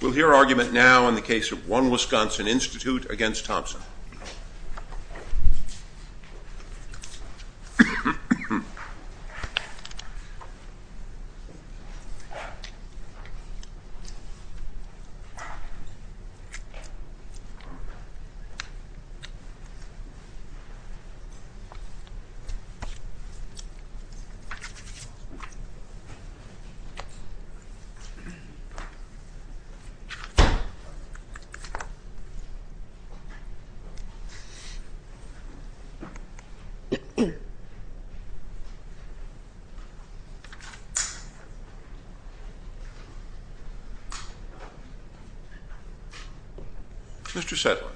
We'll hear argument now on the case of One Wisconsin Institute v. Thomsen. Mr. Saitlin.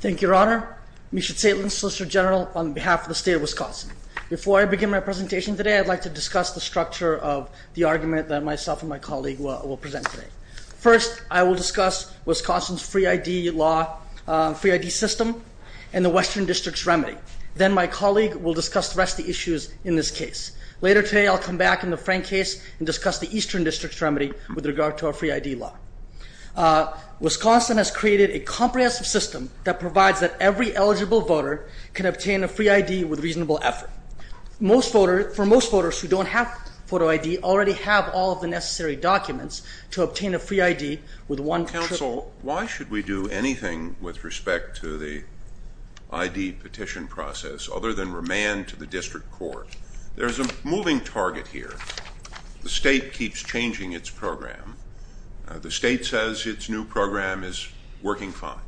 Thank you, Your Honor. Misha Saitlin, Solicitor General on behalf of the State of Wisconsin. Before I begin my presentation today, I'd like to discuss the structure of the argument that myself and my colleague will present today. First, I will discuss Wisconsin's free ID system and the Western District's remedy. Then my colleague will discuss the rest of the issues in this case. Later today, I'll come back in the Frank case and discuss the Eastern District's remedy with regard to our free ID law. Wisconsin has created a comprehensive system that provides that every eligible voter can obtain a free ID with reasonable effort. For most voters who don't have photo ID already have all of the necessary documents to obtain a free ID with one trip. Counsel, why should we do anything with respect to the ID petition process other than remand to the district court? There is a moving target here. The state keeps changing its program. The state says its new program is working fine,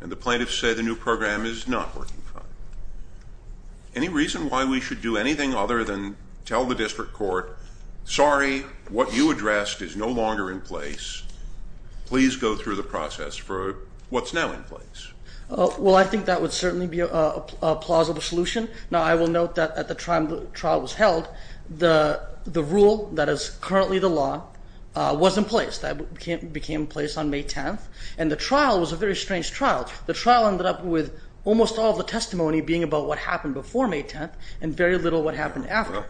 and the plaintiffs say the new program is not working fine. Any reason why we should do anything other than tell the district court, sorry, what you addressed is no longer in place. Please go through the process for what's now in place. Well, I think that would certainly be a plausible solution. Now, I will note that at the time the trial was held, the rule that is currently the law was in place. That became in place on May 10th, and the trial was a very strange trial. The trial ended up with almost all the testimony being about what happened before May 10th and very little what happened after.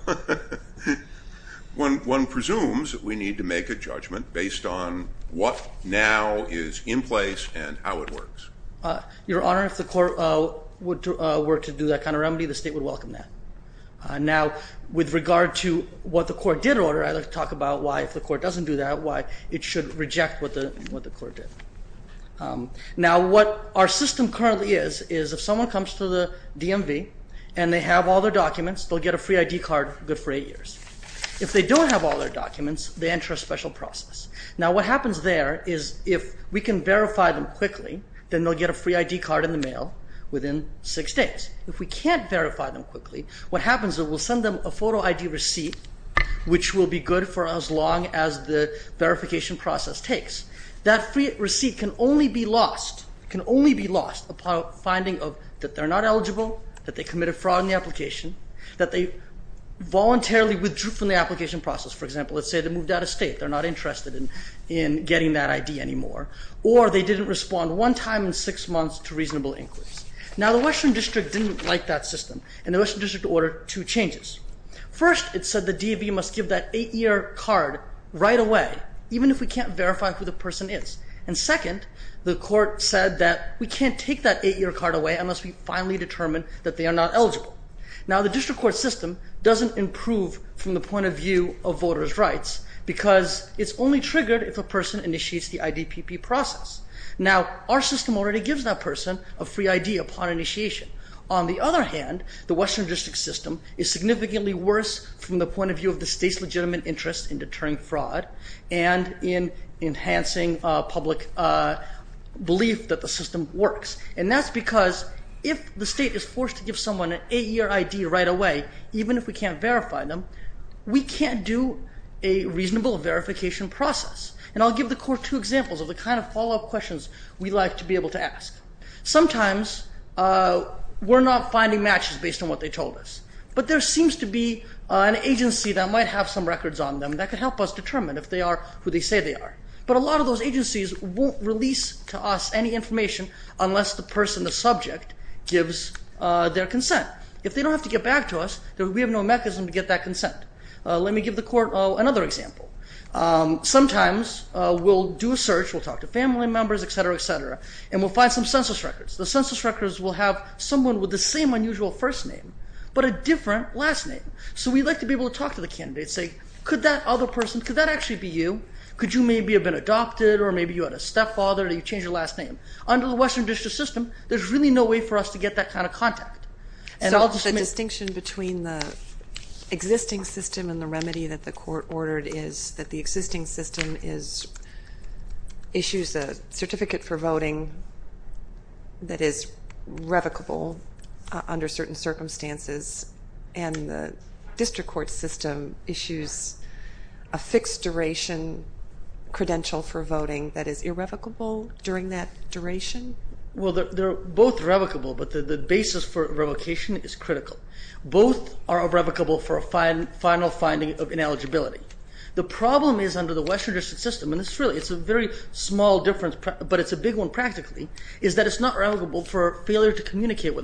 One presumes that we need to make a judgment based on what now is in place and how it works. Your Honor, if the court were to do that kind of remedy, the state would welcome that. Now with regard to what the court did order, I'd like to talk about why if the court doesn't do that, why it should reject what the court did. Now, what our system currently is, is if someone comes to the DMV and they have all their documents, they'll get a free ID card good for eight years. If they don't have all their documents, they enter a special process. Now what happens there is if we can verify them quickly, then they'll get a free ID card in the mail within six days. If we can't verify them quickly, what happens is we'll send them a photo ID receipt, which will be good for as long as the verification process takes. That free receipt can only be lost upon finding that they're not eligible, that they committed fraud in the application, that they voluntarily withdrew from the application process. For example, let's say they moved out of state, they're not interested in getting that ID anymore, or they didn't respond one time in six months to reasonable inquiries. Now the Western District didn't like that system, and the Western District ordered two changes. First, it said the DMV must give that eight-year card right away, even if we can't verify who the person is. And second, the court said that we can't take that eight-year card away unless we finally determine that they are not eligible. Now the district court system doesn't improve from the point of view of voters' rights because it's only triggered if a person initiates the IDPP process. Now our system already gives that person a free ID upon initiation. On the other hand, the Western District system is significantly worse from the point of view of the state's legitimate interest in deterring fraud and in enhancing public belief that the system works. And that's because if the state is forced to give someone an eight-year ID right away, even if we can't verify them, we can't do a reasonable verification process. And I'll give the court two examples of the kind of follow-up questions we like to be able to ask. Sometimes we're not finding matches based on what they told us, but there seems to be an agency that might have some records on them that could help us determine if they are who they say they are. But a lot of those agencies won't release to us any information unless the person, the subject, gives their consent. If they don't have to get back to us, we have no mechanism to get that consent. Let me give the court another example. Sometimes we'll do a search, we'll talk to family members, etc., etc., and we'll find some census records. The census records will have someone with the same unusual first name but a different last name. So we'd like to be able to talk to the candidate, say, could that other person, could that actually be you? Could you maybe have been adopted, or maybe you had a stepfather, or you changed your last name? Under the Western District system, there's really no way for us to get that kind of contact. And I'll just make... So the distinction between the existing system and the remedy that the court ordered is that the existing system is, issues a certificate for voting that is revocable under certain circumstances, and the district court system issues a fixed duration credential for voting that is irrevocable during that duration? Well, they're both revocable, but the basis for revocation is critical. Both are irrevocable for a final finding of ineligibility. The problem is under the Western District system, and it's really, it's a very small difference, but it's a big one practically, is that it's not revocable for failure to communicate.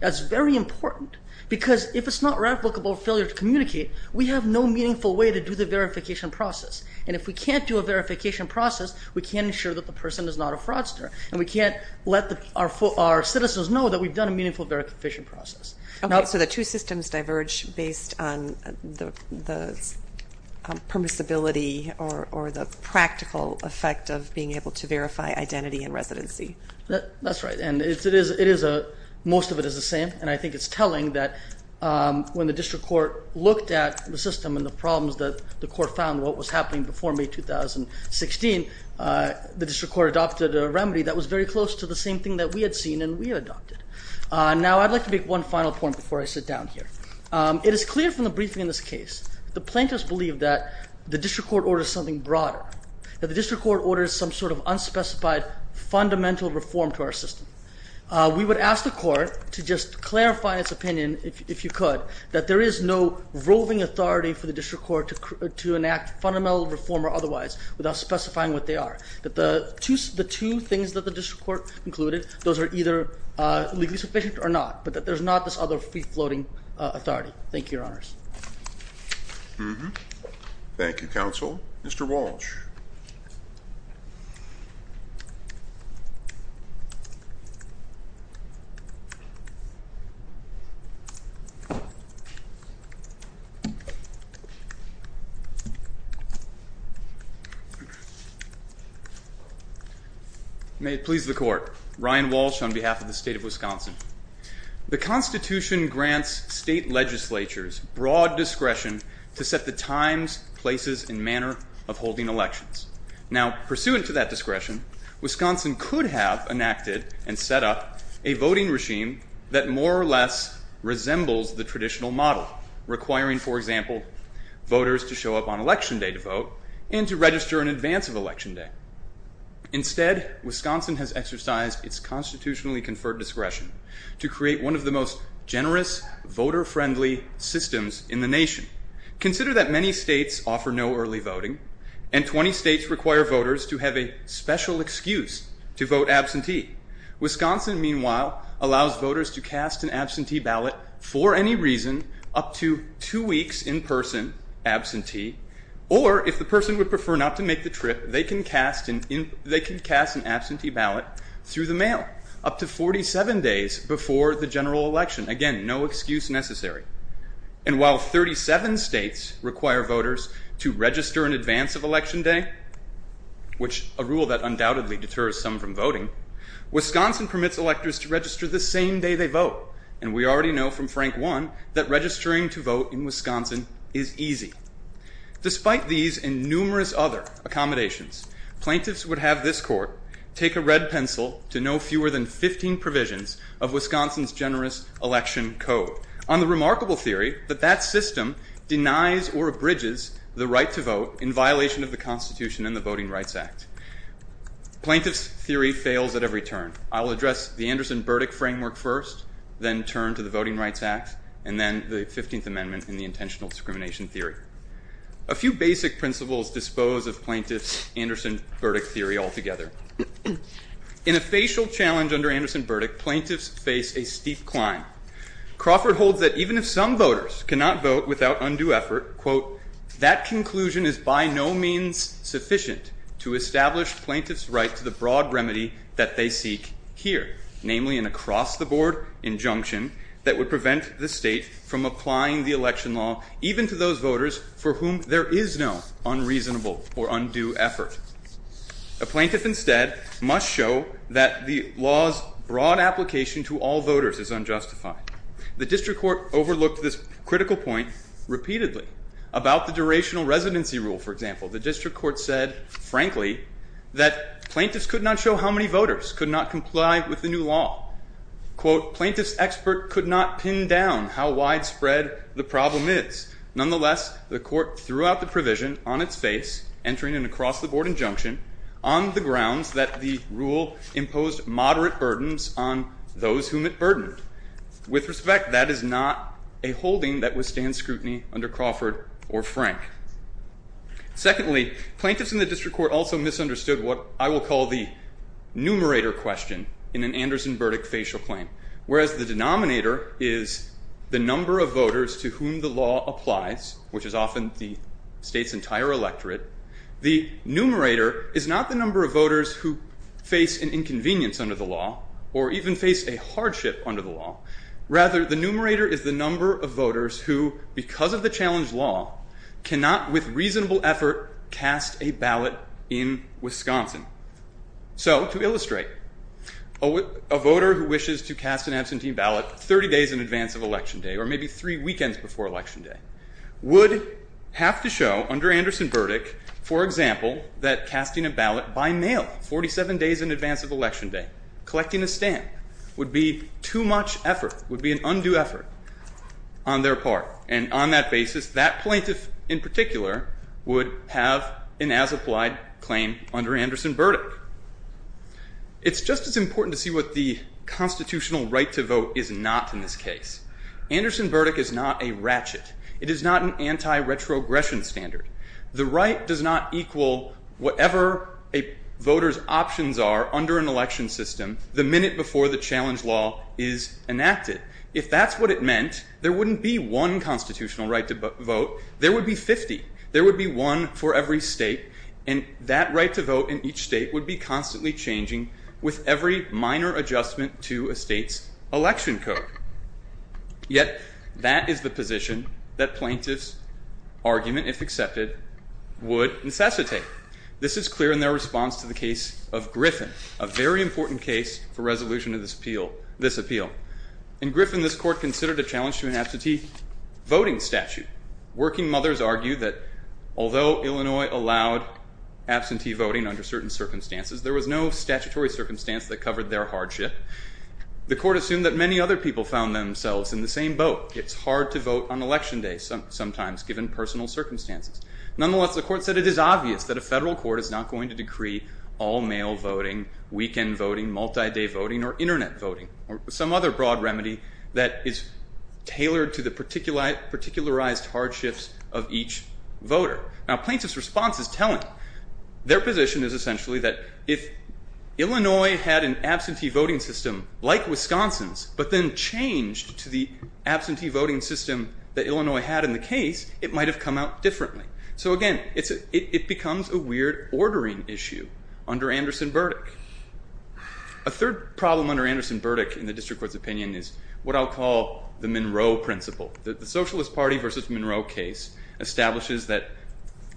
That's very important, because if it's not revocable for failure to communicate, we have no meaningful way to do the verification process. And if we can't do a verification process, we can't ensure that the person is not a fraudster, and we can't let our citizens know that we've done a meaningful verification process. Okay, so the two systems diverge based on the permissibility or the practical effect of being able to verify identity and residency. That's right, and it is, most of it is the same, and I think it's telling that when the district court looked at the system and the problems that the court found, what was happening before May 2016, the district court adopted a remedy that was very close to the same thing that we had seen and we adopted. Now, I'd like to make one final point before I sit down here. It is clear from the briefing in this case, the plaintiffs believe that the district court orders something broader, that the district court orders some sort of unspecified fundamental reform to our system. We would ask the court to just clarify its opinion, if you could, that there is no roving authority for the district court to enact fundamental reform or otherwise without specifying what they are. That the two things that the district court concluded, those are either legally sufficient or not, but that there's not this other free-floating authority. Thank you, Your Honors. Thank you, Counsel. Mr. Walsh. May it please the Court, Ryan Walsh on behalf of the State of Wisconsin. The Constitution grants state legislatures broad discretion to set the times, places, and manner of holding elections. Now, pursuant to that discretion, Wisconsin could have enacted and set up a voting regime that more or less resembles the traditional model, requiring, for example, voters to show up on election day to vote and to register in advance of election day. Instead, Wisconsin has exercised its constitutionally conferred discretion to create one of the most generous, voter-friendly systems in the nation. Consider that many states offer no early voting, and 20 states require voters to have a special excuse to vote absentee. Wisconsin, meanwhile, allows voters to cast an absentee ballot for any reason up to two weeks in person, absentee, or if the person would prefer not to make the trip, they can cast an absentee ballot through the mail up to 47 days before the general election. Again, no excuse necessary. And while 37 states require voters to register in advance of election day, which a rule that undoubtedly deters some from voting, Wisconsin permits electors to register the same day they vote, and we already know from Frank One that registering to vote in Wisconsin is easy. Despite these and numerous other accommodations, plaintiffs would have this court take a red pencil to no fewer than 15 provisions of Wisconsin's generous election code. On the remarkable theory that that system denies or abridges the right to vote in violation of the Constitution and the Voting Rights Act, plaintiff's theory fails at every turn. I'll address the Anderson-Burdick framework first, then turn to the Voting Rights Act, and then the 15th Amendment and the intentional discrimination theory. A few basic principles dispose of plaintiff's Anderson-Burdick theory altogether. In a facial challenge under Anderson-Burdick, plaintiffs face a steep climb. Crawford holds that even if some voters cannot vote without undue effort, quote, that conclusion is by no means sufficient to establish plaintiff's right to the broad remedy that they seek here, namely an across-the-board injunction that would prevent the state from applying the election law even to those voters for whom there is no unreasonable or undue effort. A plaintiff instead must show that the law's broad application to all voters is unjustified. The district court overlooked this critical point repeatedly. About the durational residency rule, for example, the district court said, frankly, that plaintiffs could not show how many voters could not comply with the new law. Quote, plaintiff's expert could not pin down how widespread the problem is. Nonetheless, the court threw out the provision on its face, entering an across-the-board injunction on the grounds that the rule imposed moderate burdens on those whom it burdened. With respect, that is not a holding that withstands scrutiny under Crawford or Frank. Secondly, plaintiffs in the district court also misunderstood what I will call the numerator question in an Anderson-Burdick facial claim, whereas the denominator is the number of voters to whom the law applies, which is often the state's entire electorate. The numerator is not the number of voters who face an inconvenience under the law or even face a hardship under the law. Rather, the numerator is the number of voters who, because of the challenged law, cannot with reasonable effort cast a ballot in Wisconsin. So to illustrate, a voter who wishes to cast an absentee ballot 30 days in advance of election day or maybe three weekends before election day would have to show under Anderson-Burdick, for example, that casting a ballot by mail 47 days in advance of election day, collecting a stamp, would be too much effort, would be an undue effort on their part. And on that basis, that plaintiff in particular would have an as-applied claim under Anderson-Burdick. It's just as important to see what the constitutional right to vote is not in this case. Anderson-Burdick is not a ratchet. It is not an anti-retrogression standard. The right does not equal whatever a voter's options are under an election system the minute before the challenge law is enacted. If that's what it meant, there wouldn't be one constitutional right to vote. There would be 50. There would be one for every state, and that right to vote in each state would be constantly changing with every minor adjustment to a state's election code. Yet that is the position that plaintiffs' argument, if accepted, would necessitate. This is clear in their response to the case of Griffin, a very important case for resolution of this appeal. In Griffin, this court considered a challenge to an absentee voting statute. Working mothers argued that although Illinois allowed absentee voting under certain circumstances, there was no statutory circumstance that covered their hardship. The court assumed that many other people found themselves in the same boat. It's hard to vote on election day sometimes, given personal circumstances. Nonetheless, the court said it is obvious that a federal court is not going to decree all-mail voting, weekend voting, multi-day voting, or internet voting, or some other broad remedy that is tailored to the particularized hardships of each voter. Now, plaintiffs' response is telling. Their position is essentially that if Illinois had an absentee voting system like Wisconsin's, but then changed to the absentee voting system that Illinois had in the case, it might have come out differently. So again, it becomes a weird ordering issue under Anderson-Burdick. A third problem under Anderson-Burdick in the district court's opinion is what I'll call the Monroe principle. The Socialist Party versus Monroe case establishes that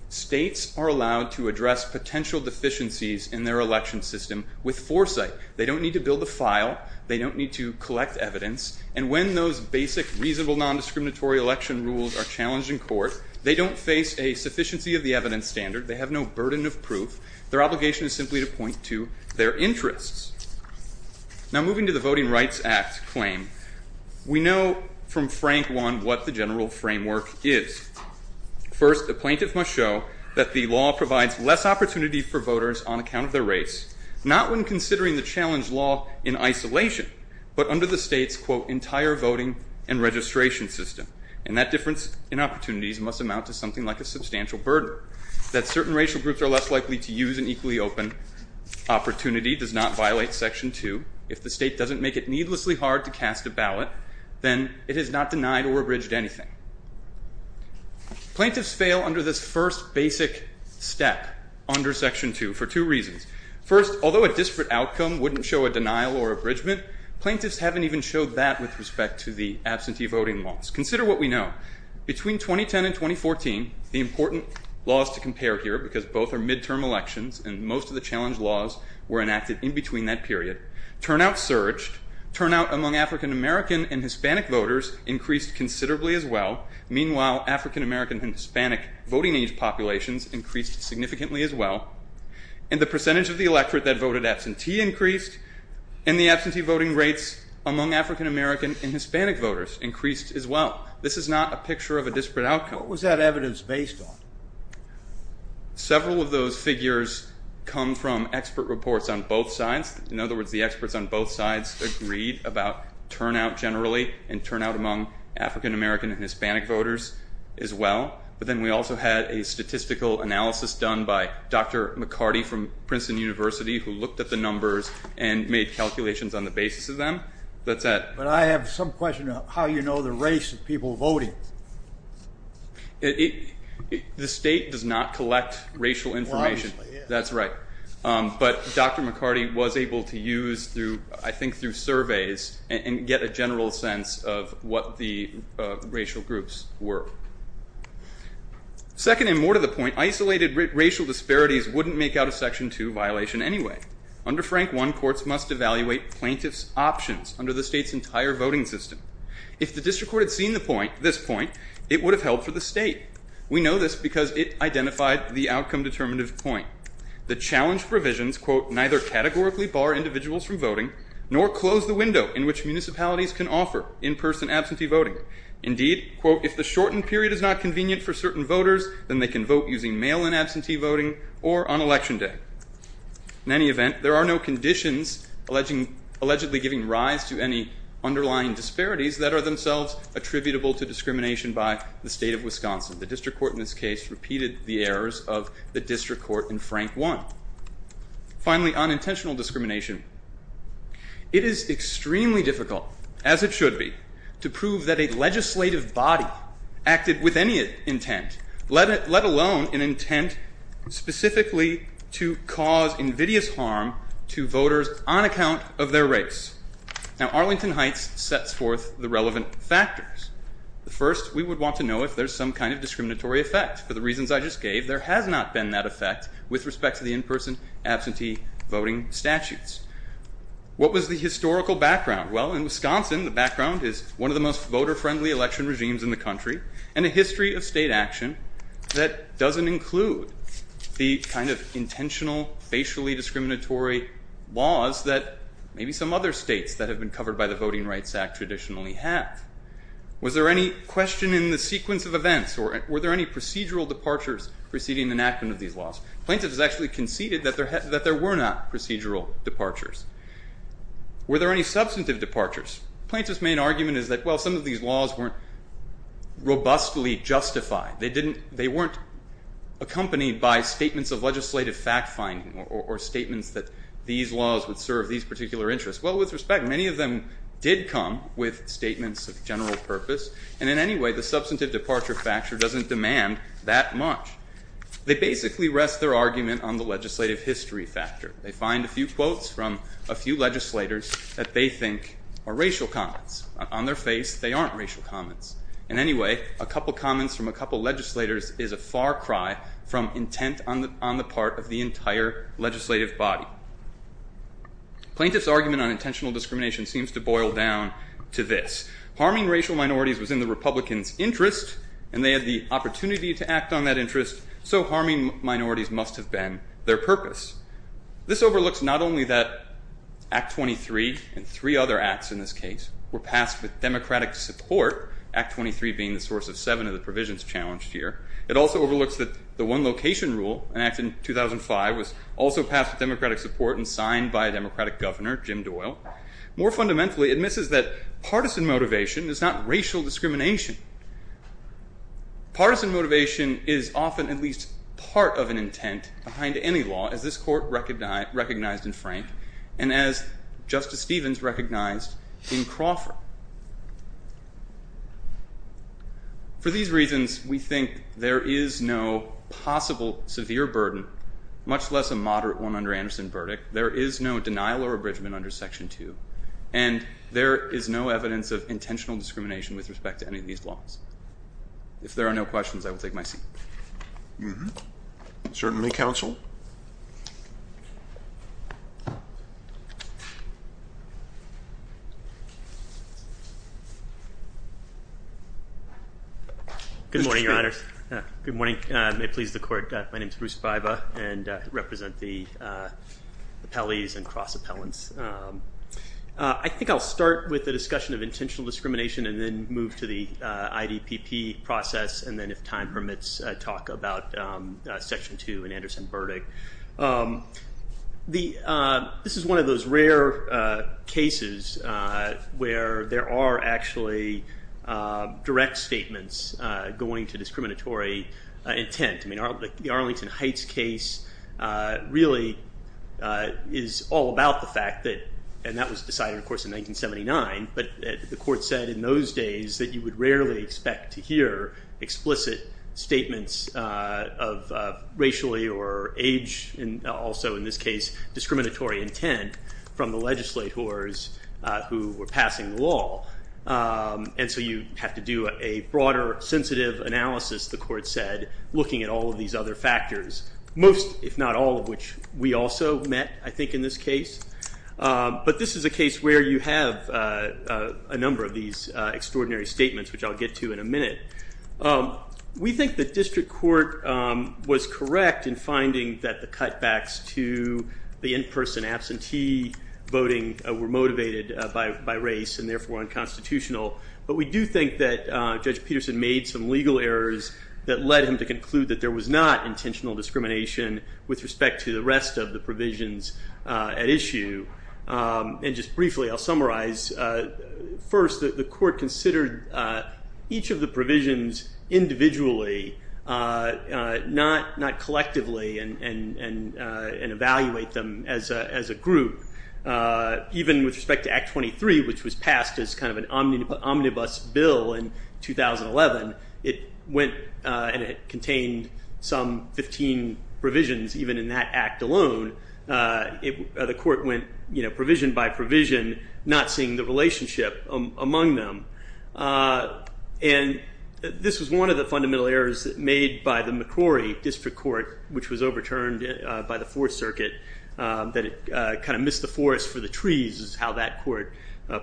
states are allowed to address potential deficiencies in their election system with foresight. They don't need to build a file. They don't need to collect evidence. And when those basic, reasonable, non-discriminatory election rules are challenged in court, they don't face a sufficiency of the evidence standard. They have no burden of proof. Their obligation is simply to point to their interests. Now moving to the Voting Rights Act claim, we know from Frank one what the general framework is. First, the plaintiff must show that the law provides less opportunity for voters on account of their race, not when considering the challenge law in isolation, but under the state's, quote, entire voting and registration system. And that difference in opportunities must amount to something like a substantial burden, that certain racial groups are less likely to use an equally open opportunity does not violate Section 2. If the state doesn't make it needlessly hard to cast a ballot, then it has not denied or abridged anything. Plaintiffs fail under this first basic step under Section 2 for two reasons. First, although a disparate outcome wouldn't show a denial or abridgment, plaintiffs haven't even showed that with respect to the absentee voting laws. Consider what we know. Between 2010 and 2014, the important laws to compare here because both are midterm elections and most of the challenge laws were enacted in between that period, turnout surged, turnout among African-American and Hispanic voters increased considerably as well, meanwhile African-American and Hispanic voting age populations increased significantly as well, and the percentage of the electorate that voted absentee increased, and the absentee voting rates among African-American and Hispanic voters increased as well. This is not a picture of a disparate outcome. What was that evidence based on? Several of those figures come from expert reports on both sides. In other words, the experts on both sides agreed about turnout generally and turnout among African-American and Hispanic voters as well, but then we also had a statistical analysis done by Dr. McCarty from Princeton University who looked at the numbers and made calculations on the basis of them. That's it. But I have some question on how you know the race of people voting. The state does not collect racial information. That's right. But Dr. McCarty was able to use through, I think, through surveys and get a general sense of what the racial groups were. Second and more to the point, isolated racial disparities wouldn't make out a Section 2 violation anyway. Under Frank I, courts must evaluate plaintiff's options under the state's entire voting system. If the district court had seen this point, it would have held for the state. We know this because it identified the outcome-determinative point. The challenge provisions, quote, neither categorically bar individuals from voting nor close the window in which municipalities can offer in-person absentee voting. Indeed, quote, if the shortened period is not convenient for certain voters, then they can vote using mail-in absentee voting or on Election Day. In any event, there are no conditions allegedly giving rise to any underlying disparities that are themselves attributable to discrimination by the state of Wisconsin. The district court in this case repeated the errors of the district court in Frank I. Finally, unintentional discrimination. It is extremely difficult, as it should be, to prove that a legislative body acted with any intent, let alone an intent specifically to cause invidious harm to voters on account of their race. Now, Arlington Heights sets forth the relevant factors. First, we would want to know if there's some kind of discriminatory effect. For the reasons I just gave, there has not been that effect with respect to the in-person absentee voting statutes. What was the historical background? Well, in Wisconsin, the background is one of the most voter-friendly election regimes in the country and a history of state action that doesn't include the kind of intentional facially discriminatory laws that maybe some other states that have been covered by the Voting Rights Act traditionally have. Was there any question in the sequence of events, or were there any procedural departures preceding enactment of these laws? Plaintiffs actually conceded that there were not procedural departures. Were there any substantive departures? Plaintiffs' main argument is that, well, some of these laws weren't robustly justified. They weren't accompanied by statements of legislative fact-finding or statements that these laws would serve these particular interests. Well, with respect, many of them did come with statements of general purpose, and in any way, the substantive departure factor doesn't demand that much. They basically rest their argument on the legislative history factor. They find a few quotes from a few legislators that they think are racial comments. On their face, they aren't racial comments. And anyway, a couple comments from a couple legislators is a far cry from intent on the part of the entire legislative body. Plaintiffs' argument on intentional discrimination seems to boil down to this. Harming racial minorities was in the Republicans' interest, and they had the opportunity to This overlooks not only that Act 23 and three other acts in this case were passed with Democratic support, Act 23 being the source of seven of the provisions challenged here. It also overlooks that the One Location Rule, an act in 2005, was also passed with Democratic support and signed by a Democratic governor, Jim Doyle. More fundamentally, it misses that partisan motivation is not racial discrimination. Partisan motivation is often at least part of an intent behind any law, as this court recognized in Frank, and as Justice Stevens recognized in Crawford. For these reasons, we think there is no possible severe burden, much less a moderate one under Anderson's verdict. There is no denial or abridgment under Section 2, and there is no evidence of intentional discrimination with respect to any of these laws. If there are no questions, I will take my seat. Certainly, counsel. Good morning, Your Honors. Good morning. May it please the Court. My name is Bruce Baiba, and I represent the appellees and cross-appellants. I think I'll start with the discussion of intentional discrimination and then move to the IDPP process, and then, if time permits, talk about Section 2 and Anderson's verdict. This is one of those rare cases where there are actually direct statements going to discriminatory intent. The Arlington Heights case really is all about the fact that, and that was decided, of course, in 1979, but the Court said in those days that you would rarely expect to hear explicit statements of racially or age, and also, in this case, discriminatory intent from the legislators who were passing the law, and so you have to do a broader, sensitive analysis, the Court said, looking at all of these other factors, most, if not all, of which we also met, I think, in this case, but this is a case where you have a number of these extraordinary statements, which I'll get to in a minute. We think the District Court was correct in finding that the cutbacks to the in-person absentee voting were motivated by race and, therefore, unconstitutional, but we do think that Judge Peterson made some legal errors that led him to conclude that there was not intentional discrimination with respect to the rest of the provisions at issue, and just briefly, I'll summarize. First, the Court considered each of the provisions individually, not collectively, and evaluate them as a group. Even with respect to Act 23, which was passed as kind of an omnibus bill in 2011, it went and it contained some 15 provisions, even in that act alone, the Court went provision by provision, not seeing the relationship among them, and this was one of the fundamental errors made by the McCrory District Court, which was overturned by the Fourth Circuit, that it kind of missed the forest for the trees, is how that Court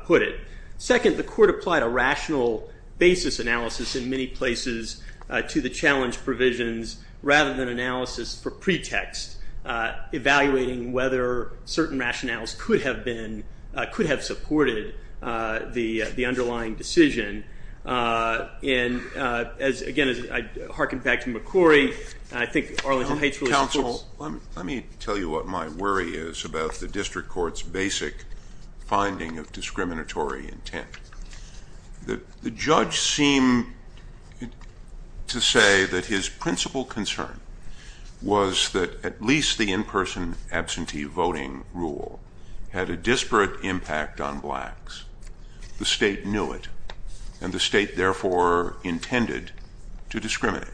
put it. Second, the Court applied a rational basis analysis in many places to the challenge provisions, rather than analysis for pretext, evaluating whether certain rationales could have been, the underlying decision, and as, again, I hearken back to McCrory, I think Arlington High School is of course- Counsel, let me tell you what my worry is about the District Court's basic finding of discriminatory intent. The judge seemed to say that his principal concern was that at least the in-person absentee voting rule had a disparate impact on blacks. The state knew it, and the state therefore intended to discriminate.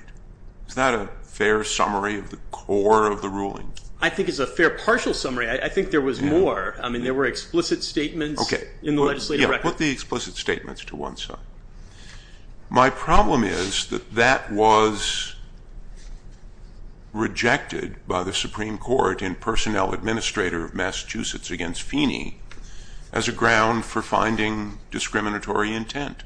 Is that a fair summary of the core of the ruling? I think it's a fair partial summary. I think there was more. I mean, there were explicit statements in the legislative record. Okay, yeah, put the explicit statements to one side. My problem is that that was rejected by the Supreme Court in personnel administrator of Massachusetts against Feeney as a ground for finding discriminatory intent.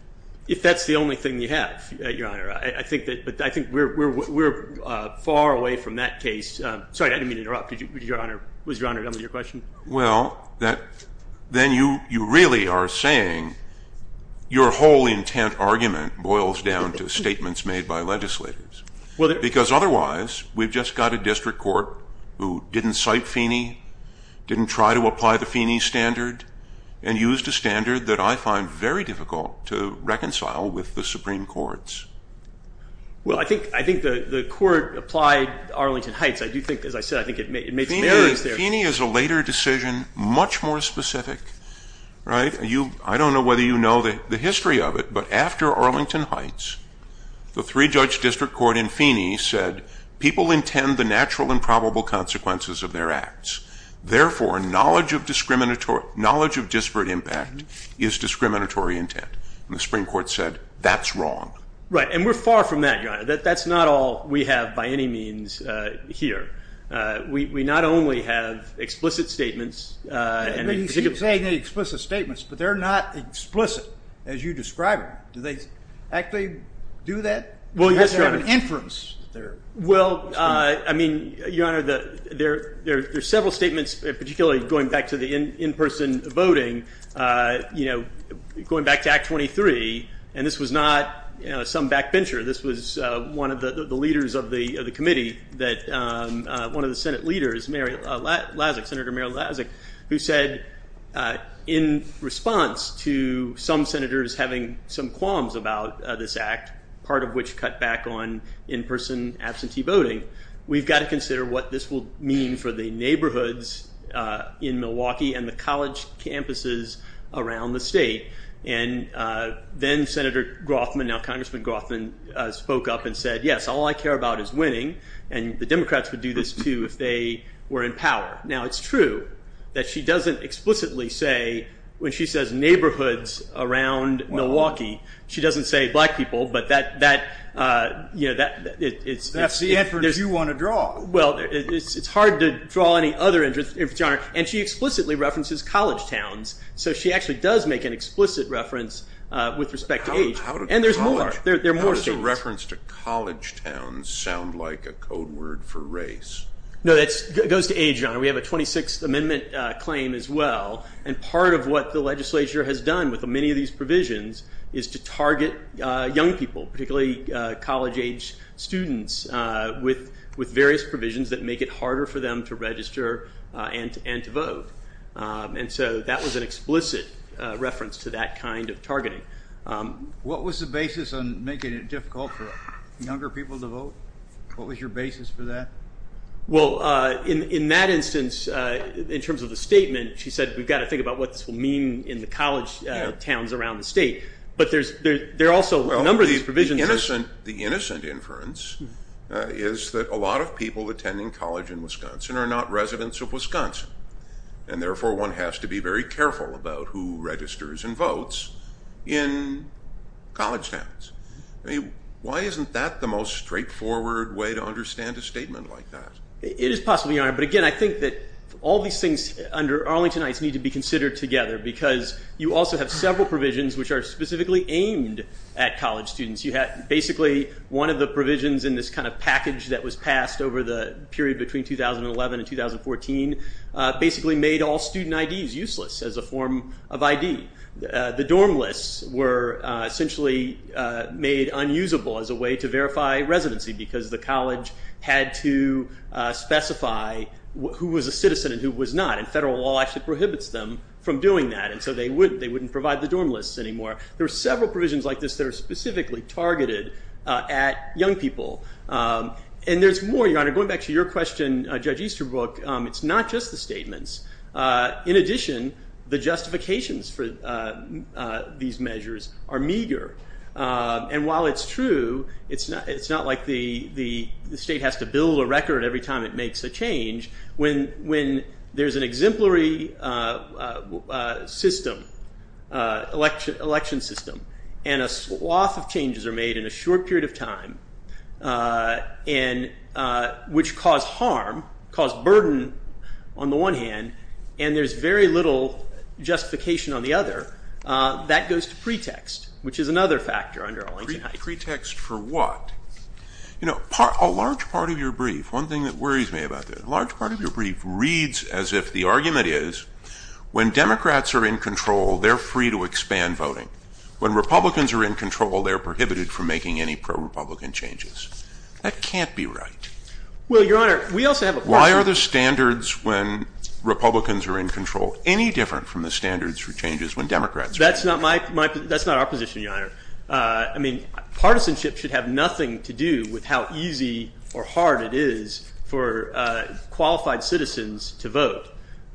If that's the only thing you have, Your Honor, I think that, but I think we're far away from that case. Sorry, I didn't mean to interrupt. Did you, Your Honor, was Your Honor done with your question? Well, then you really are saying your whole intent argument boils down to statements made by legislators. Because otherwise, we've just got a District Court who didn't cite Feeney, didn't try to apply the Feeney standard, and used a standard that I find very difficult to reconcile with the Supreme Court's. Well, I think the court applied Arlington Heights. I do think, as I said, I think it made some errors there. But Feeney is a later decision, much more specific, right? I don't know whether you know the history of it, but after Arlington Heights, the three-judge District Court in Feeney said, people intend the natural and probable consequences of their acts. Therefore, knowledge of disparate impact is discriminatory intent. And the Supreme Court said, that's wrong. Right, and we're far from that, Your Honor. That's not all we have by any means here. We not only have explicit statements, but they're not explicit, as you describe it. Do they actually do that? Well, yes, Your Honor. They have an inference. Well, I mean, Your Honor, there are several statements, particularly going back to the in-person voting, going back to Act 23. And this was not some backbencher. This was one of the leaders of the committee, one of the Senate leaders, Mary Lazik, Senator Mary Lazik, who said, in response to some senators having some qualms about this act, part of which cut back on in-person absentee voting, we've got to consider what this will mean for the neighborhoods in Milwaukee and the college campuses around the state. And then Senator Groffman, now Congressman Groffman, spoke up and said, yes, all I care about is winning, and the Democrats would do this, too, if they were in power. Now it's true that she doesn't explicitly say, when she says neighborhoods around Milwaukee, she doesn't say black people, but that, you know, that's the inference you want to draw. Well, it's hard to draw any other inference, Your Honor, and she explicitly references college towns. So she actually does make an explicit reference with respect to age. And there's more. There are more states. How does a reference to college towns sound like a code word for race? No, that goes to age, Your Honor. We have a 26th Amendment claim as well, and part of what the legislature has done with many of these provisions is to target young people, particularly college-age students, with various provisions that make it harder for them to register and to vote. And so that was an explicit reference to that kind of targeting. What was the basis on making it difficult for younger people to vote? What was your basis for that? Well, in that instance, in terms of the statement, she said, we've got to think about what this will mean in the college towns around the state, but there are also a number of these provisions. Well, the innocent inference is that a lot of people attending college in Wisconsin are not residents of Wisconsin, and therefore, one has to be very careful about who registers and votes in college towns. Why isn't that the most straightforward way to understand a statement like that? It is possible, Your Honor, but again, I think that all these things under Arlingtonites need to be considered together because you also have several provisions which are specifically aimed at college students. You have basically one of the provisions in this kind of package that was passed over the period between 2011 and 2014, basically made all student IDs useless as a form of ID. The dorm lists were essentially made unusable as a way to verify residency because the college had to specify who was a citizen and who was not, and federal law actually prohibits them from doing that, and so they wouldn't provide the dorm lists anymore. There are several provisions like this that are specifically targeted at young people, and there's more, Your Honor, going back to your question, Judge Easterbrook, it's not just the statements. In addition, the justifications for these measures are meager, and while it's true, it's not like the state has to build a record every time it makes a change. When there's an exemplary system, election system, and a swath of changes are made in a short period of time, which cause harm, cause burden on the one hand, and there's very little justification on the other, that goes to pretext, which is another factor under Arlington Heights. Pretext for what? You know, a large part of your brief, one thing that worries me about that, a large part of your brief reads as if the argument is, when Democrats are in control, they're free to expand voting. When Republicans are in control, they're prohibited from making any pro-Republican changes. That can't be right. Well, Your Honor, we also have a question. Why are the standards when Republicans are in control any different from the standards for changes when Democrats are in control? That's not my, that's not our position, Your Honor. I mean, partisanship should have nothing to do with how easy or hard it is for qualified citizens to vote.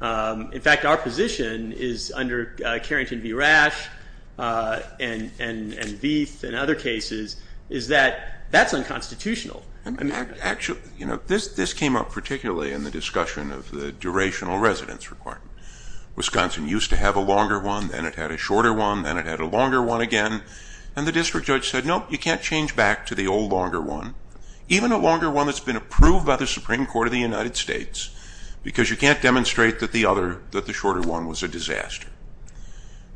In fact, our position is, under Carrington v. Rash and Veith and other cases, is that that's unconstitutional. And actually, you know, this came up particularly in the discussion of the durational residence requirement. Wisconsin used to have a longer one, then it had a shorter one, then it had a longer one again, and the district judge said, no, you can't change back to the old longer one, even a longer one that's been approved by the Supreme Court of the United States, because you can't demonstrate that the other, that the shorter one was a disaster.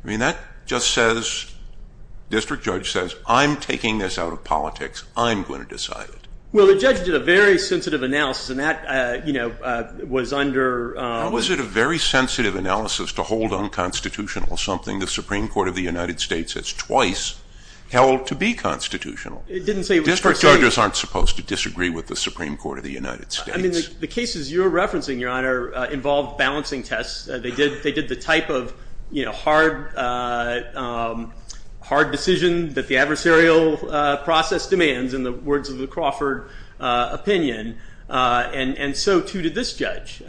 I mean, that just says, district judge says, I'm taking this out of politics, I'm going to decide it. Well, the judge did a very sensitive analysis, and that, you know, was under... How was it a very sensitive analysis to hold unconstitutional something the Supreme Court of the United States has twice held to be constitutional? It didn't say... District judges aren't supposed to disagree with the Supreme Court of the United States. I mean, the cases you're referencing, Your Honor, involved balancing tests. They did the type of, you know, hard decision that the adversarial process demands, in the words of the Crawford opinion, and so too did this judge.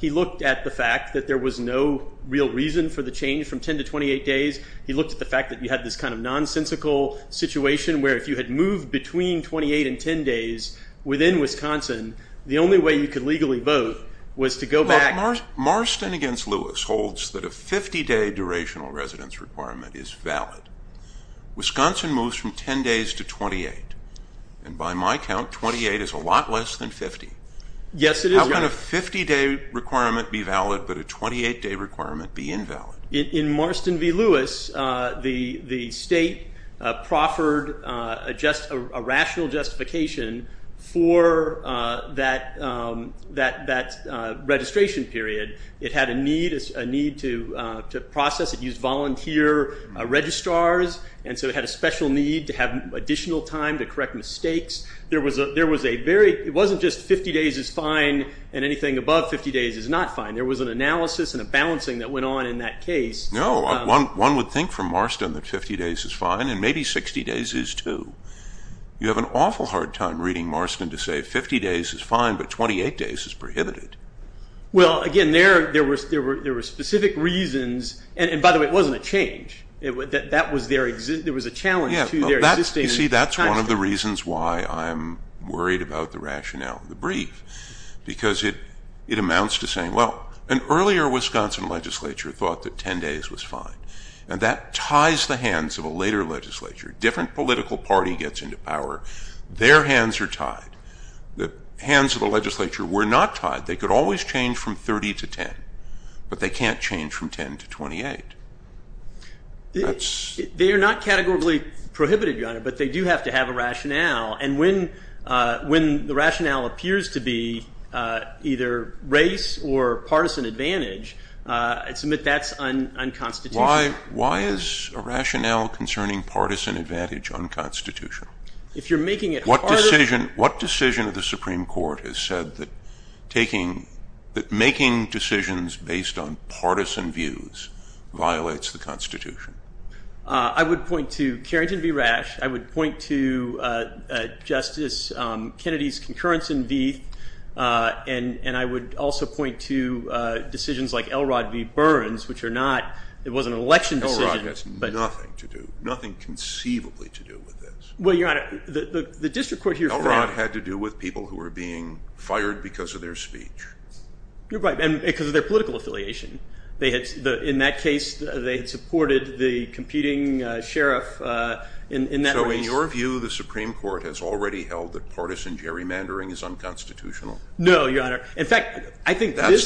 He looked at the fact that there was no real reason for the change from 10 to 28 days. He looked at the fact that you had this kind of nonsensical situation where if you had moved between 28 and 10 days within Wisconsin, the only way you could legally vote was to go back... Look, Marston v. Lewis holds that a 50-day durational residence requirement is valid. Wisconsin moves from 10 days to 28, and by my count, 28 is a lot less than 50. Yes, it is. How can a 50-day requirement be valid, but a 28-day requirement be invalid? In Marston v. Lewis, the state proffered a rational justification for that registration period. It had a need to process. It used volunteer registrars, and so it had a special need to have additional time to correct mistakes. There was a very... It wasn't just 50 days is fine and anything above 50 days is not fine. There was an analysis and a balancing that went on in that case. No, one would think from Marston that 50 days is fine, and maybe 60 days is too. You have an awful hard time reading Marston to say 50 days is fine, but 28 days is prohibited. Well, again, there were specific reasons, and by the way, it wasn't a change. There was a challenge to their existence. You see, that's one of the reasons why I'm worried about the rationale, the brief, because it amounts to saying, well, an earlier Wisconsin legislature thought that 10 days was fine, and that ties the hands of a later legislature. Different political party gets into power. Their hands are tied. The hands of the legislature were not tied. They could always change from 30 to 10, but they can't change from 10 to 28. They are not categorically prohibited, Your Honor, but they do have to have a rationale, and when the rationale appears to be either race or partisan advantage, I submit that's unconstitutional. Why is a rationale concerning partisan advantage unconstitutional? If you're making it part of it. What decision of the Supreme Court has said that making decisions based on partisan views violates the Constitution? I would point to Justice Kennedy's concurrence in Vieth, and I would also point to decisions like Elrod v. Burns, which are not, it was an election decision. Elrod has nothing to do, nothing conceivably to do with this. Well, Your Honor, the district court here found. Elrod had to do with people who were being fired because of their speech. You're right, and because of their political affiliation. In that case, they had supported the competing sheriff in that race. So in your view, the Supreme Court has already held that partisan gerrymandering is unconstitutional? No, Your Honor. That's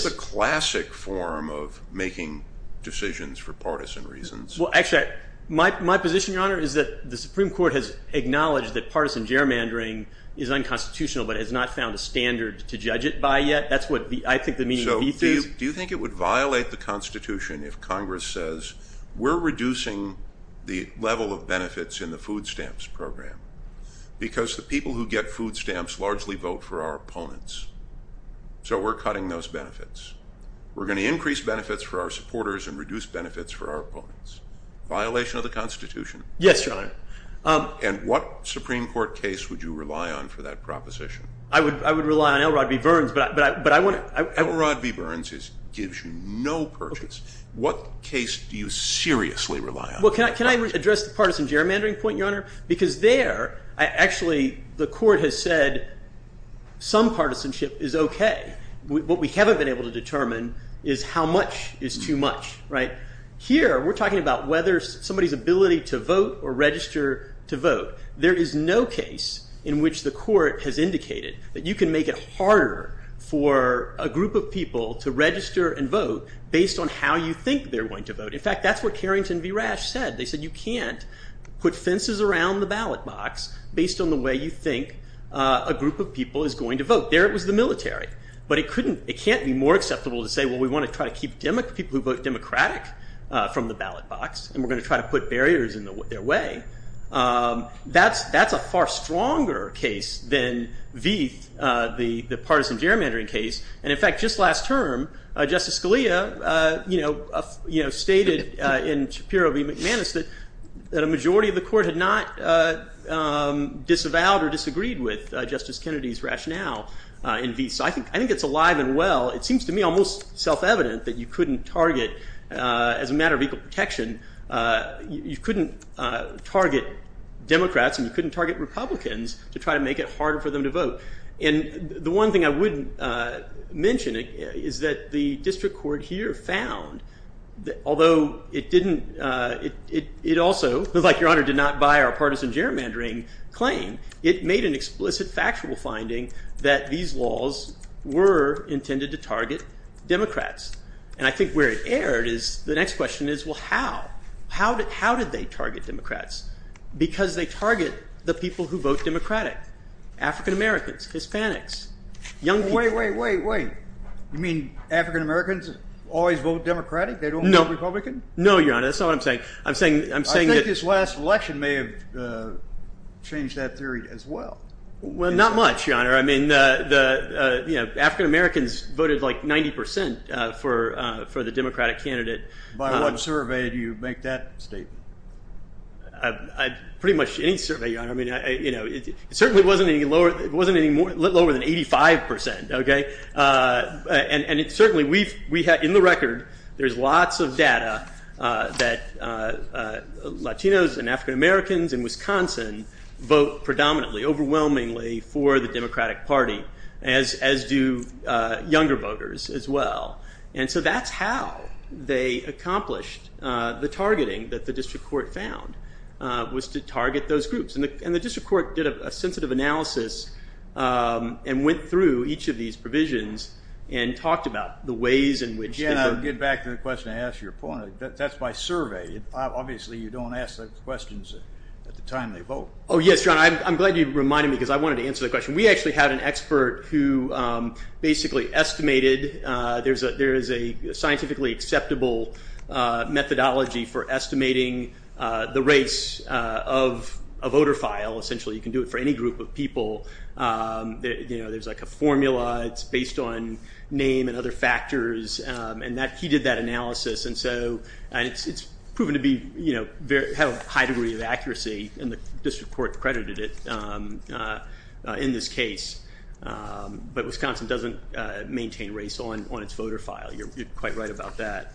the classic form of making decisions for partisan reasons. Well, actually, my position, Your Honor, is that the Supreme Court has acknowledged that partisan gerrymandering is unconstitutional, but has not found a standard to judge it by yet. That's what I think the meaning of Vieth is. Do you think it would violate the Constitution if Congress says we're reducing the level of benefits in the food stamps program because the people who get food stamps largely vote for our opponents, so we're cutting those benefits. We're going to increase benefits for our supporters and reduce benefits for our opponents. Violation of the Constitution? Yes, Your Honor. And what Supreme Court case would you rely on for that proposition? I would rely on Elrod v. Burns, but I wouldn't. Elrod v. Burns gives you no purchase. What case do you seriously rely on? Well, can I address the partisan gerrymandering point, Your Honor? Because there, actually, the court has said some partisanship is OK. What we haven't been able to determine is how much is too much, right? Here, we're talking about whether somebody's ability to vote or register to vote. There is no case in which the court has indicated that you can make it harder for a group of people to register and vote based on how you think they're going to vote. In fact, that's what Carrington v. Rash said. They said you can't put fences around the ballot box based on the way you think a group of people is going to vote. There it was the military. But it can't be more acceptable to say, well, we want to try to keep people who vote Democratic from the ballot box, and we're going to try to put barriers in their way. That's a far stronger case than Veith, the partisan gerrymandering case. And in fact, just last term, Justice Scalia stated in Shapiro v. McManus that a majority of the court had not disavowed or disagreed with Justice Kennedy's rationale in Veith. So I think it's alive and well. It seems to me almost self-evident that you couldn't target, as a matter of equal protection, you couldn't target Democrats and you couldn't target Republicans to try to make it harder for them to vote. And the one thing I would mention is that the district court here found, although it didn't, it also, like Your Honor, did not buy our partisan gerrymandering claim, it made an explicit factual finding that these laws were intended to target Democrats. And I think where it erred is the next question is, well, how? How did they target Democrats? Because they target the people who vote Democratic, African-Americans, Hispanics, young people. Wait, wait, wait, wait. You mean African-Americans always vote Democratic? They don't vote Republican? No, Your Honor. That's not what I'm saying. I think this last election may have changed that theory as well. Well, not much, Your Honor. I mean, African-Americans voted like 90% for the Democratic candidate. By what survey do you make that statement? Pretty much any survey, Your Honor. I mean, it certainly wasn't any lower than 85%, okay? And it certainly, in the record, there's lots of data that Latinos and African-Americans in Wisconsin vote predominantly, overwhelmingly for the Democratic Party, as do younger voters as well. And so that's how they accomplished the targeting that the district court found was to target those groups. And the district court did a sensitive analysis and went through each of these provisions and talked about the ways in which they were. Again, I'll get back to the question I asked your point. That's by survey. Obviously, you don't ask those questions at the time they vote. Oh, yes, Your Honor. I'm glad you reminded me because I wanted to answer that question. We actually had an expert who basically estimated. There is a scientifically acceptable methodology for estimating the race of a voter file. Essentially, you can do it for any group of people. There's like a formula. It's based on name and other factors. And he did that analysis. And so it's proven to have a high degree of accuracy, and the district court credited it in this case. But Wisconsin doesn't maintain race on its voter file. You're quite right about that.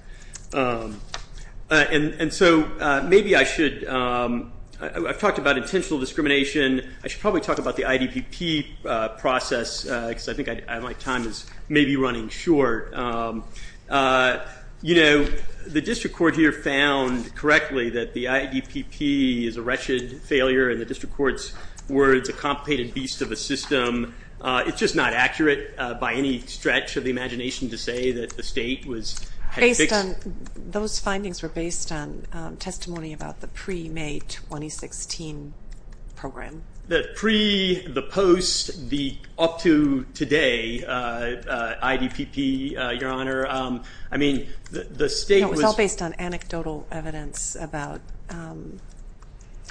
And so maybe I should – I've talked about intentional discrimination. I should probably talk about the IDPP process because I think my time is maybe running short. You know, the district court here found correctly that the IDPP is a wretched failure, and the district court's words, a complicated beast of a system. It's just not accurate by any stretch of the imagination to say that the state was – Based on – those findings were based on testimony about the pre-May 2016 program. The pre, the post, the up to today IDPP, Your Honor. I mean, the state was – It was all based on anecdotal evidence about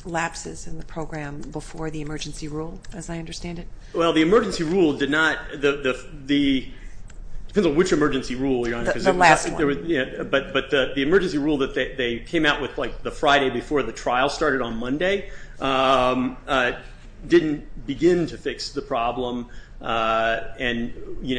lapses in the program before the emergency rule, as I understand it. Well, the emergency rule did not – depends on which emergency rule, Your Honor. The last one. But the emergency rule that they came out with, like, the Friday before the trial started on Monday, didn't begin to fix the problem. And, you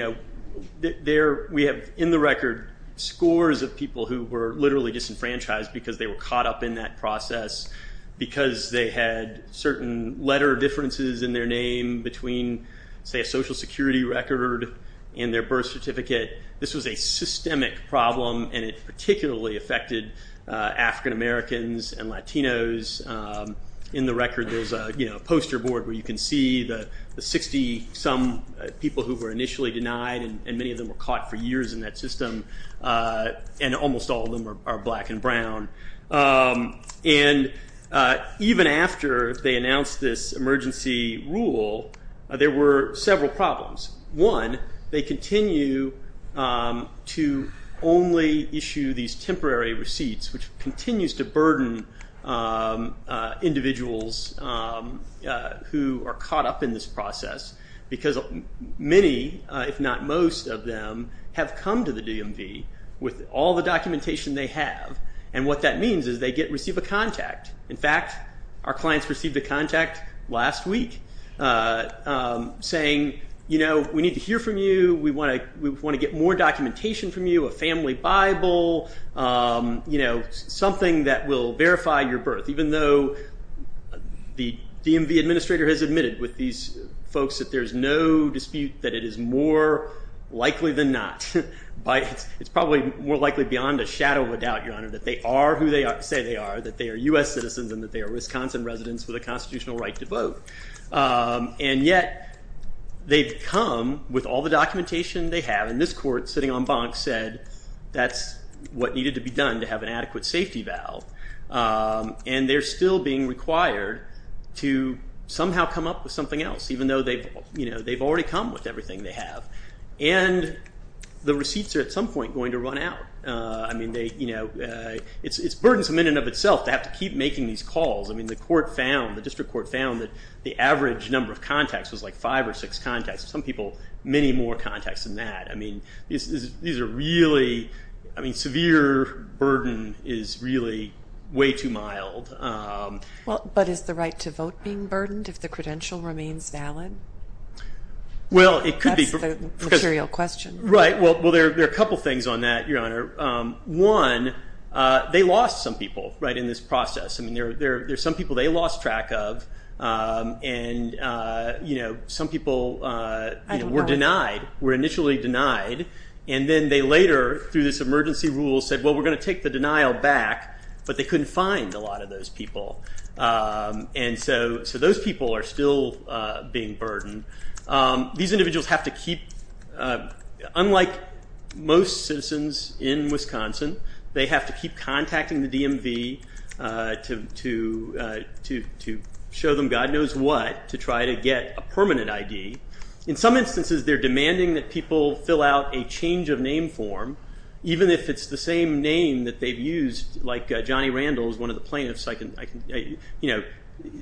know, we have in the record scores of people who were literally disenfranchised because they were caught up in that process, because they had certain letter differences in their name between, say, a Social Security record and their birth certificate. This was a systemic problem, and it particularly affected African Americans and Latinos. In the record, there's a poster board where you can see the 60-some people who were initially denied, and many of them were caught for years in that system, and almost all of them are black and brown. And even after they announced this emergency rule, there were several problems. One, they continue to only issue these temporary receipts, which continues to burden individuals who are caught up in this process, because many, if not most of them, have come to the DMV with all the documentation they have. And what that means is they receive a contact. In fact, our clients received a contact last week saying, you know, we need to hear from you. We want to get more documentation from you, a family Bible, you know, something that will verify your birth, even though the DMV administrator has admitted with these folks that there's no dispute that it is more likely than not. It's probably more likely beyond a shadow of a doubt, Your Honor, that they are who they say they are, that they are U.S. citizens and that they are Wisconsin residents with a constitutional right to vote. And yet they've come with all the documentation they have. And this court, sitting on bonks, said that's what needed to be done to have an adequate safety valve. And they're still being required to somehow come up with something else, even though they've already come with everything they have. And the receipts are at some point going to run out. I mean, they, you know, it's burdensome in and of itself to have to keep making these calls. I mean, the court found, the district court found that the average number of contacts was like five or six contacts. Some people, many more contacts than that. I mean, these are really, I mean, severe burden is really way too mild. But is the right to vote being burdened if the credential remains valid? Well, it could be. That's the material question. Right. Well, there are a couple of things on that, Your Honor. One, they lost some people, right, in this process. I mean, there are some people they lost track of. And, you know, some people were denied, were initially denied. And then they later, through this emergency rule, said, well, we're going to take the denial back. But they couldn't find a lot of those people. And so those people are still being burdened. These individuals have to keep, unlike most citizens in Wisconsin, they have to keep contacting the DMV to show them God knows what to try to get a permanent ID. In some instances, they're demanding that people fill out a change of name form, even if it's the same name that they've used, like Johnny Randall is one of the plaintiffs, you know,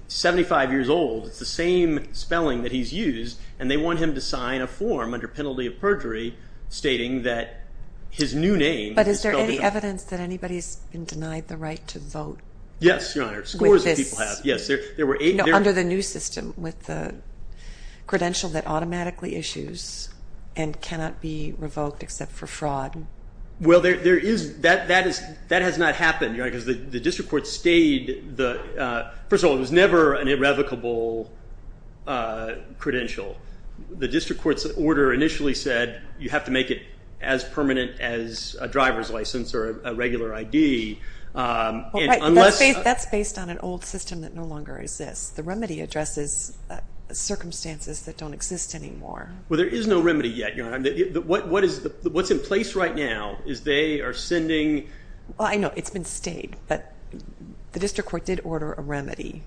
75 years old. It's the same spelling that he's used. And they want him to sign a form under penalty of perjury stating that his new name. But is there any evidence that anybody's been denied the right to vote? Yes, Your Honor. Scores of people have. Yes. Under the new system with the credential that automatically issues and cannot be revoked except for fraud. Well, there is. That has not happened, Your Honor, because the district court stayed. First of all, it was never an irrevocable credential. The district court's order initially said you have to make it as permanent as a driver's license or a regular ID. That's based on an old system that no longer exists. The remedy addresses circumstances that don't exist anymore. Well, there is no remedy yet, Your Honor. What's in place right now is they are sending. Well, I know it's been stayed, but the district court did order a remedy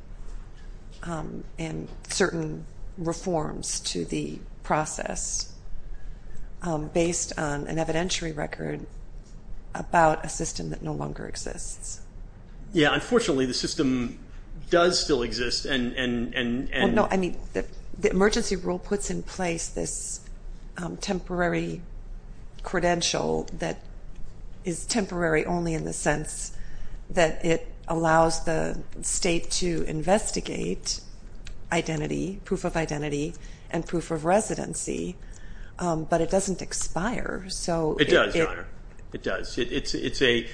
and certain reforms to the process based on an evidentiary record about a system that no longer exists. Yeah, unfortunately, the system does still exist and. No, I mean the emergency rule puts in place this temporary credential that is temporary only in the sense that it allows the state to investigate identity, proof of identity, and proof of residency, but it doesn't expire. It does, Your Honor. It does. The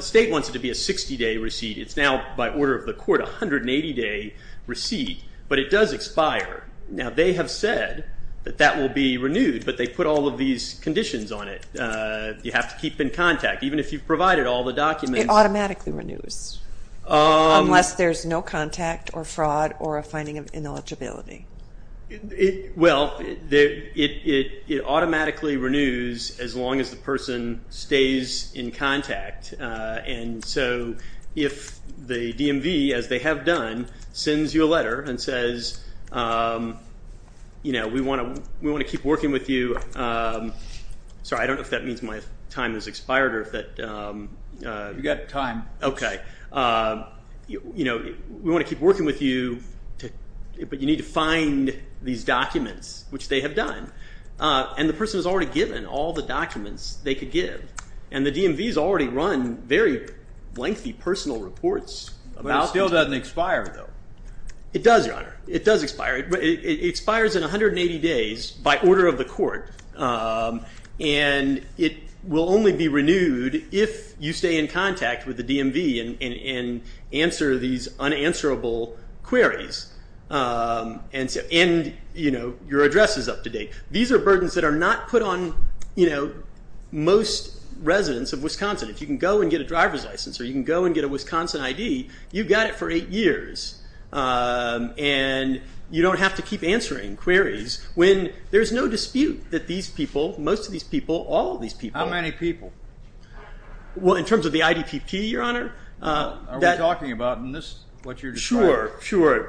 state wants it to be a 60-day receipt. It's now, by order of the court, a 180-day receipt, but it does expire. Now, they have said that that will be renewed, but they put all of these conditions on it. You have to keep in contact, even if you've provided all the documents. It automatically renews unless there's no contact or fraud or a finding of ineligibility. Well, it automatically renews as long as the person stays in contact, and so if the DMV, as they have done, sends you a letter and says, you know, we want to keep working with you. Sorry, I don't know if that means my time has expired or if that. You've got time. Okay. You know, we want to keep working with you, but you need to find these documents, which they have done, and the person has already given all the documents they could give, and the DMV has already run very lengthy personal reports. But it still doesn't expire, though. It does, Your Honor. It does expire. It expires in 180 days by order of the court, and it will only be renewed if you stay in contact with the DMV and answer these unanswerable queries and your address is up to date. These are burdens that are not put on most residents of Wisconsin. If you can go and get a driver's license or you can go and get a Wisconsin ID, you've got it for eight years, and you don't have to keep answering queries when there's no dispute that these people, most of these people, all of these people. How many people? Well, in terms of the IDPP, Your Honor. Are we talking about what you're describing? Sure,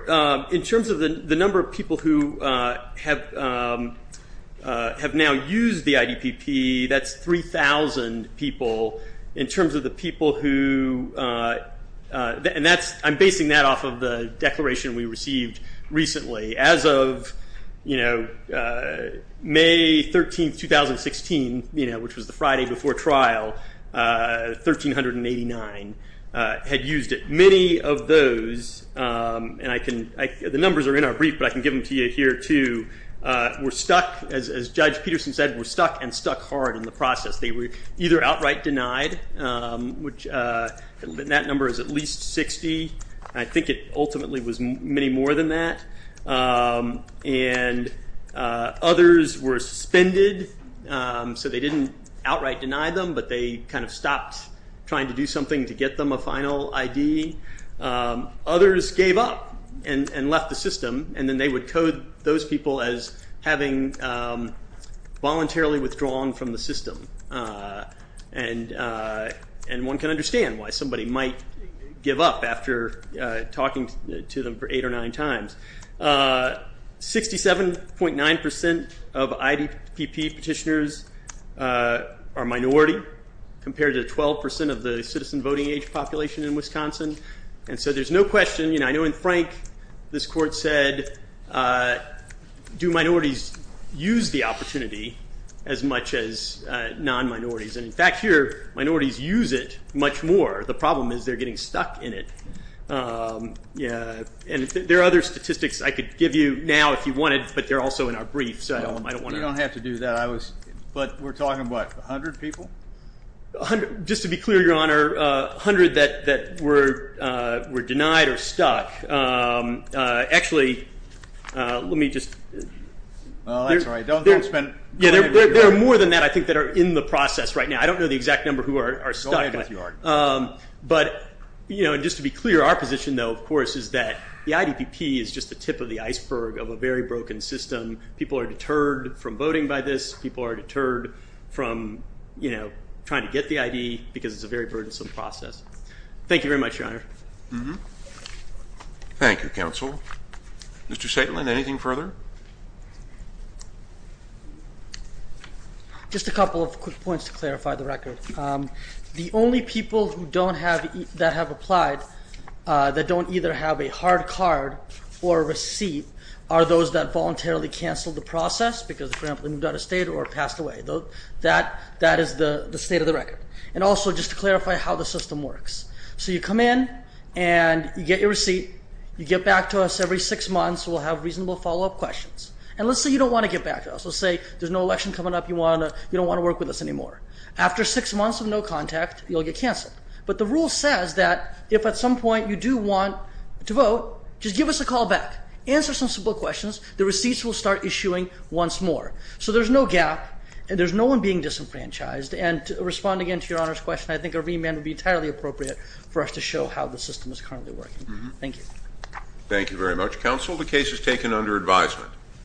sure. In terms of the number of people who have now used the IDPP, that's 3,000 people. In terms of the people who, and I'm basing that off of the declaration we received recently. As of May 13, 2016, which was the Friday before trial, 1,389 had used it. Many of those, and the numbers are in our brief, but I can give them to you here too, were stuck, as Judge Peterson said, were stuck and stuck hard in the process. They were either outright denied, which that number is at least 60. I think it ultimately was many more than that. And others were suspended, so they didn't outright deny them, but they kind of stopped trying to do something to get them a final ID. Others gave up and left the system, and then they would code those people as having voluntarily withdrawn from the system. And one can understand why somebody might give up after talking to them for eight or nine times. 67.9% of IDPP petitioners are minority, compared to 12% of the citizen voting age population in Wisconsin. And so there's no question, and I know in Frank this court said, do minorities use the opportunity as much as non-minorities? And in fact here, minorities use it much more. The problem is they're getting stuck in it. And there are other statistics I could give you now if you wanted, but they're also in our brief, so I don't want to— You don't have to do that. But we're talking about 100 people? Just to be clear, Your Honor, 100 that were denied or stuck. Actually, let me just— Well, that's all right. There are more than that, I think, that are in the process right now. I don't know the exact number who are stuck. Go ahead with your argument. But just to be clear, our position, though, of course, is that the IDPP is just the tip of the iceberg of a very broken system. People are deterred from voting by this. People are deterred from trying to get the ID because it's a very burdensome process. Thank you very much, Your Honor. Thank you, counsel. Mr. Saitlin, anything further? Just a couple of quick points to clarify the record. The only people that have applied that don't either have a hard card or a receipt are those that voluntarily canceled the process because, for example, they moved out of state or passed away. That is the state of the record. And also, just to clarify how the system works, so you come in and you get your receipt. You get back to us every six months. We'll have reasonable follow-up questions. And let's say you don't want to get back to us. Let's say there's no election coming up. You don't want to work with us anymore. After six months of no contact, you'll get canceled. But the rule says that if at some point you do want to vote, just give us a call back. Answer some simple questions. The receipts will start issuing once more. So there's no gap, and there's no one being disenfranchised. And responding again to Your Honor's question, I think a remand would be entirely appropriate for us to show how the system is currently working. Thank you. Thank you very much. Counsel, the case is taken under advisement.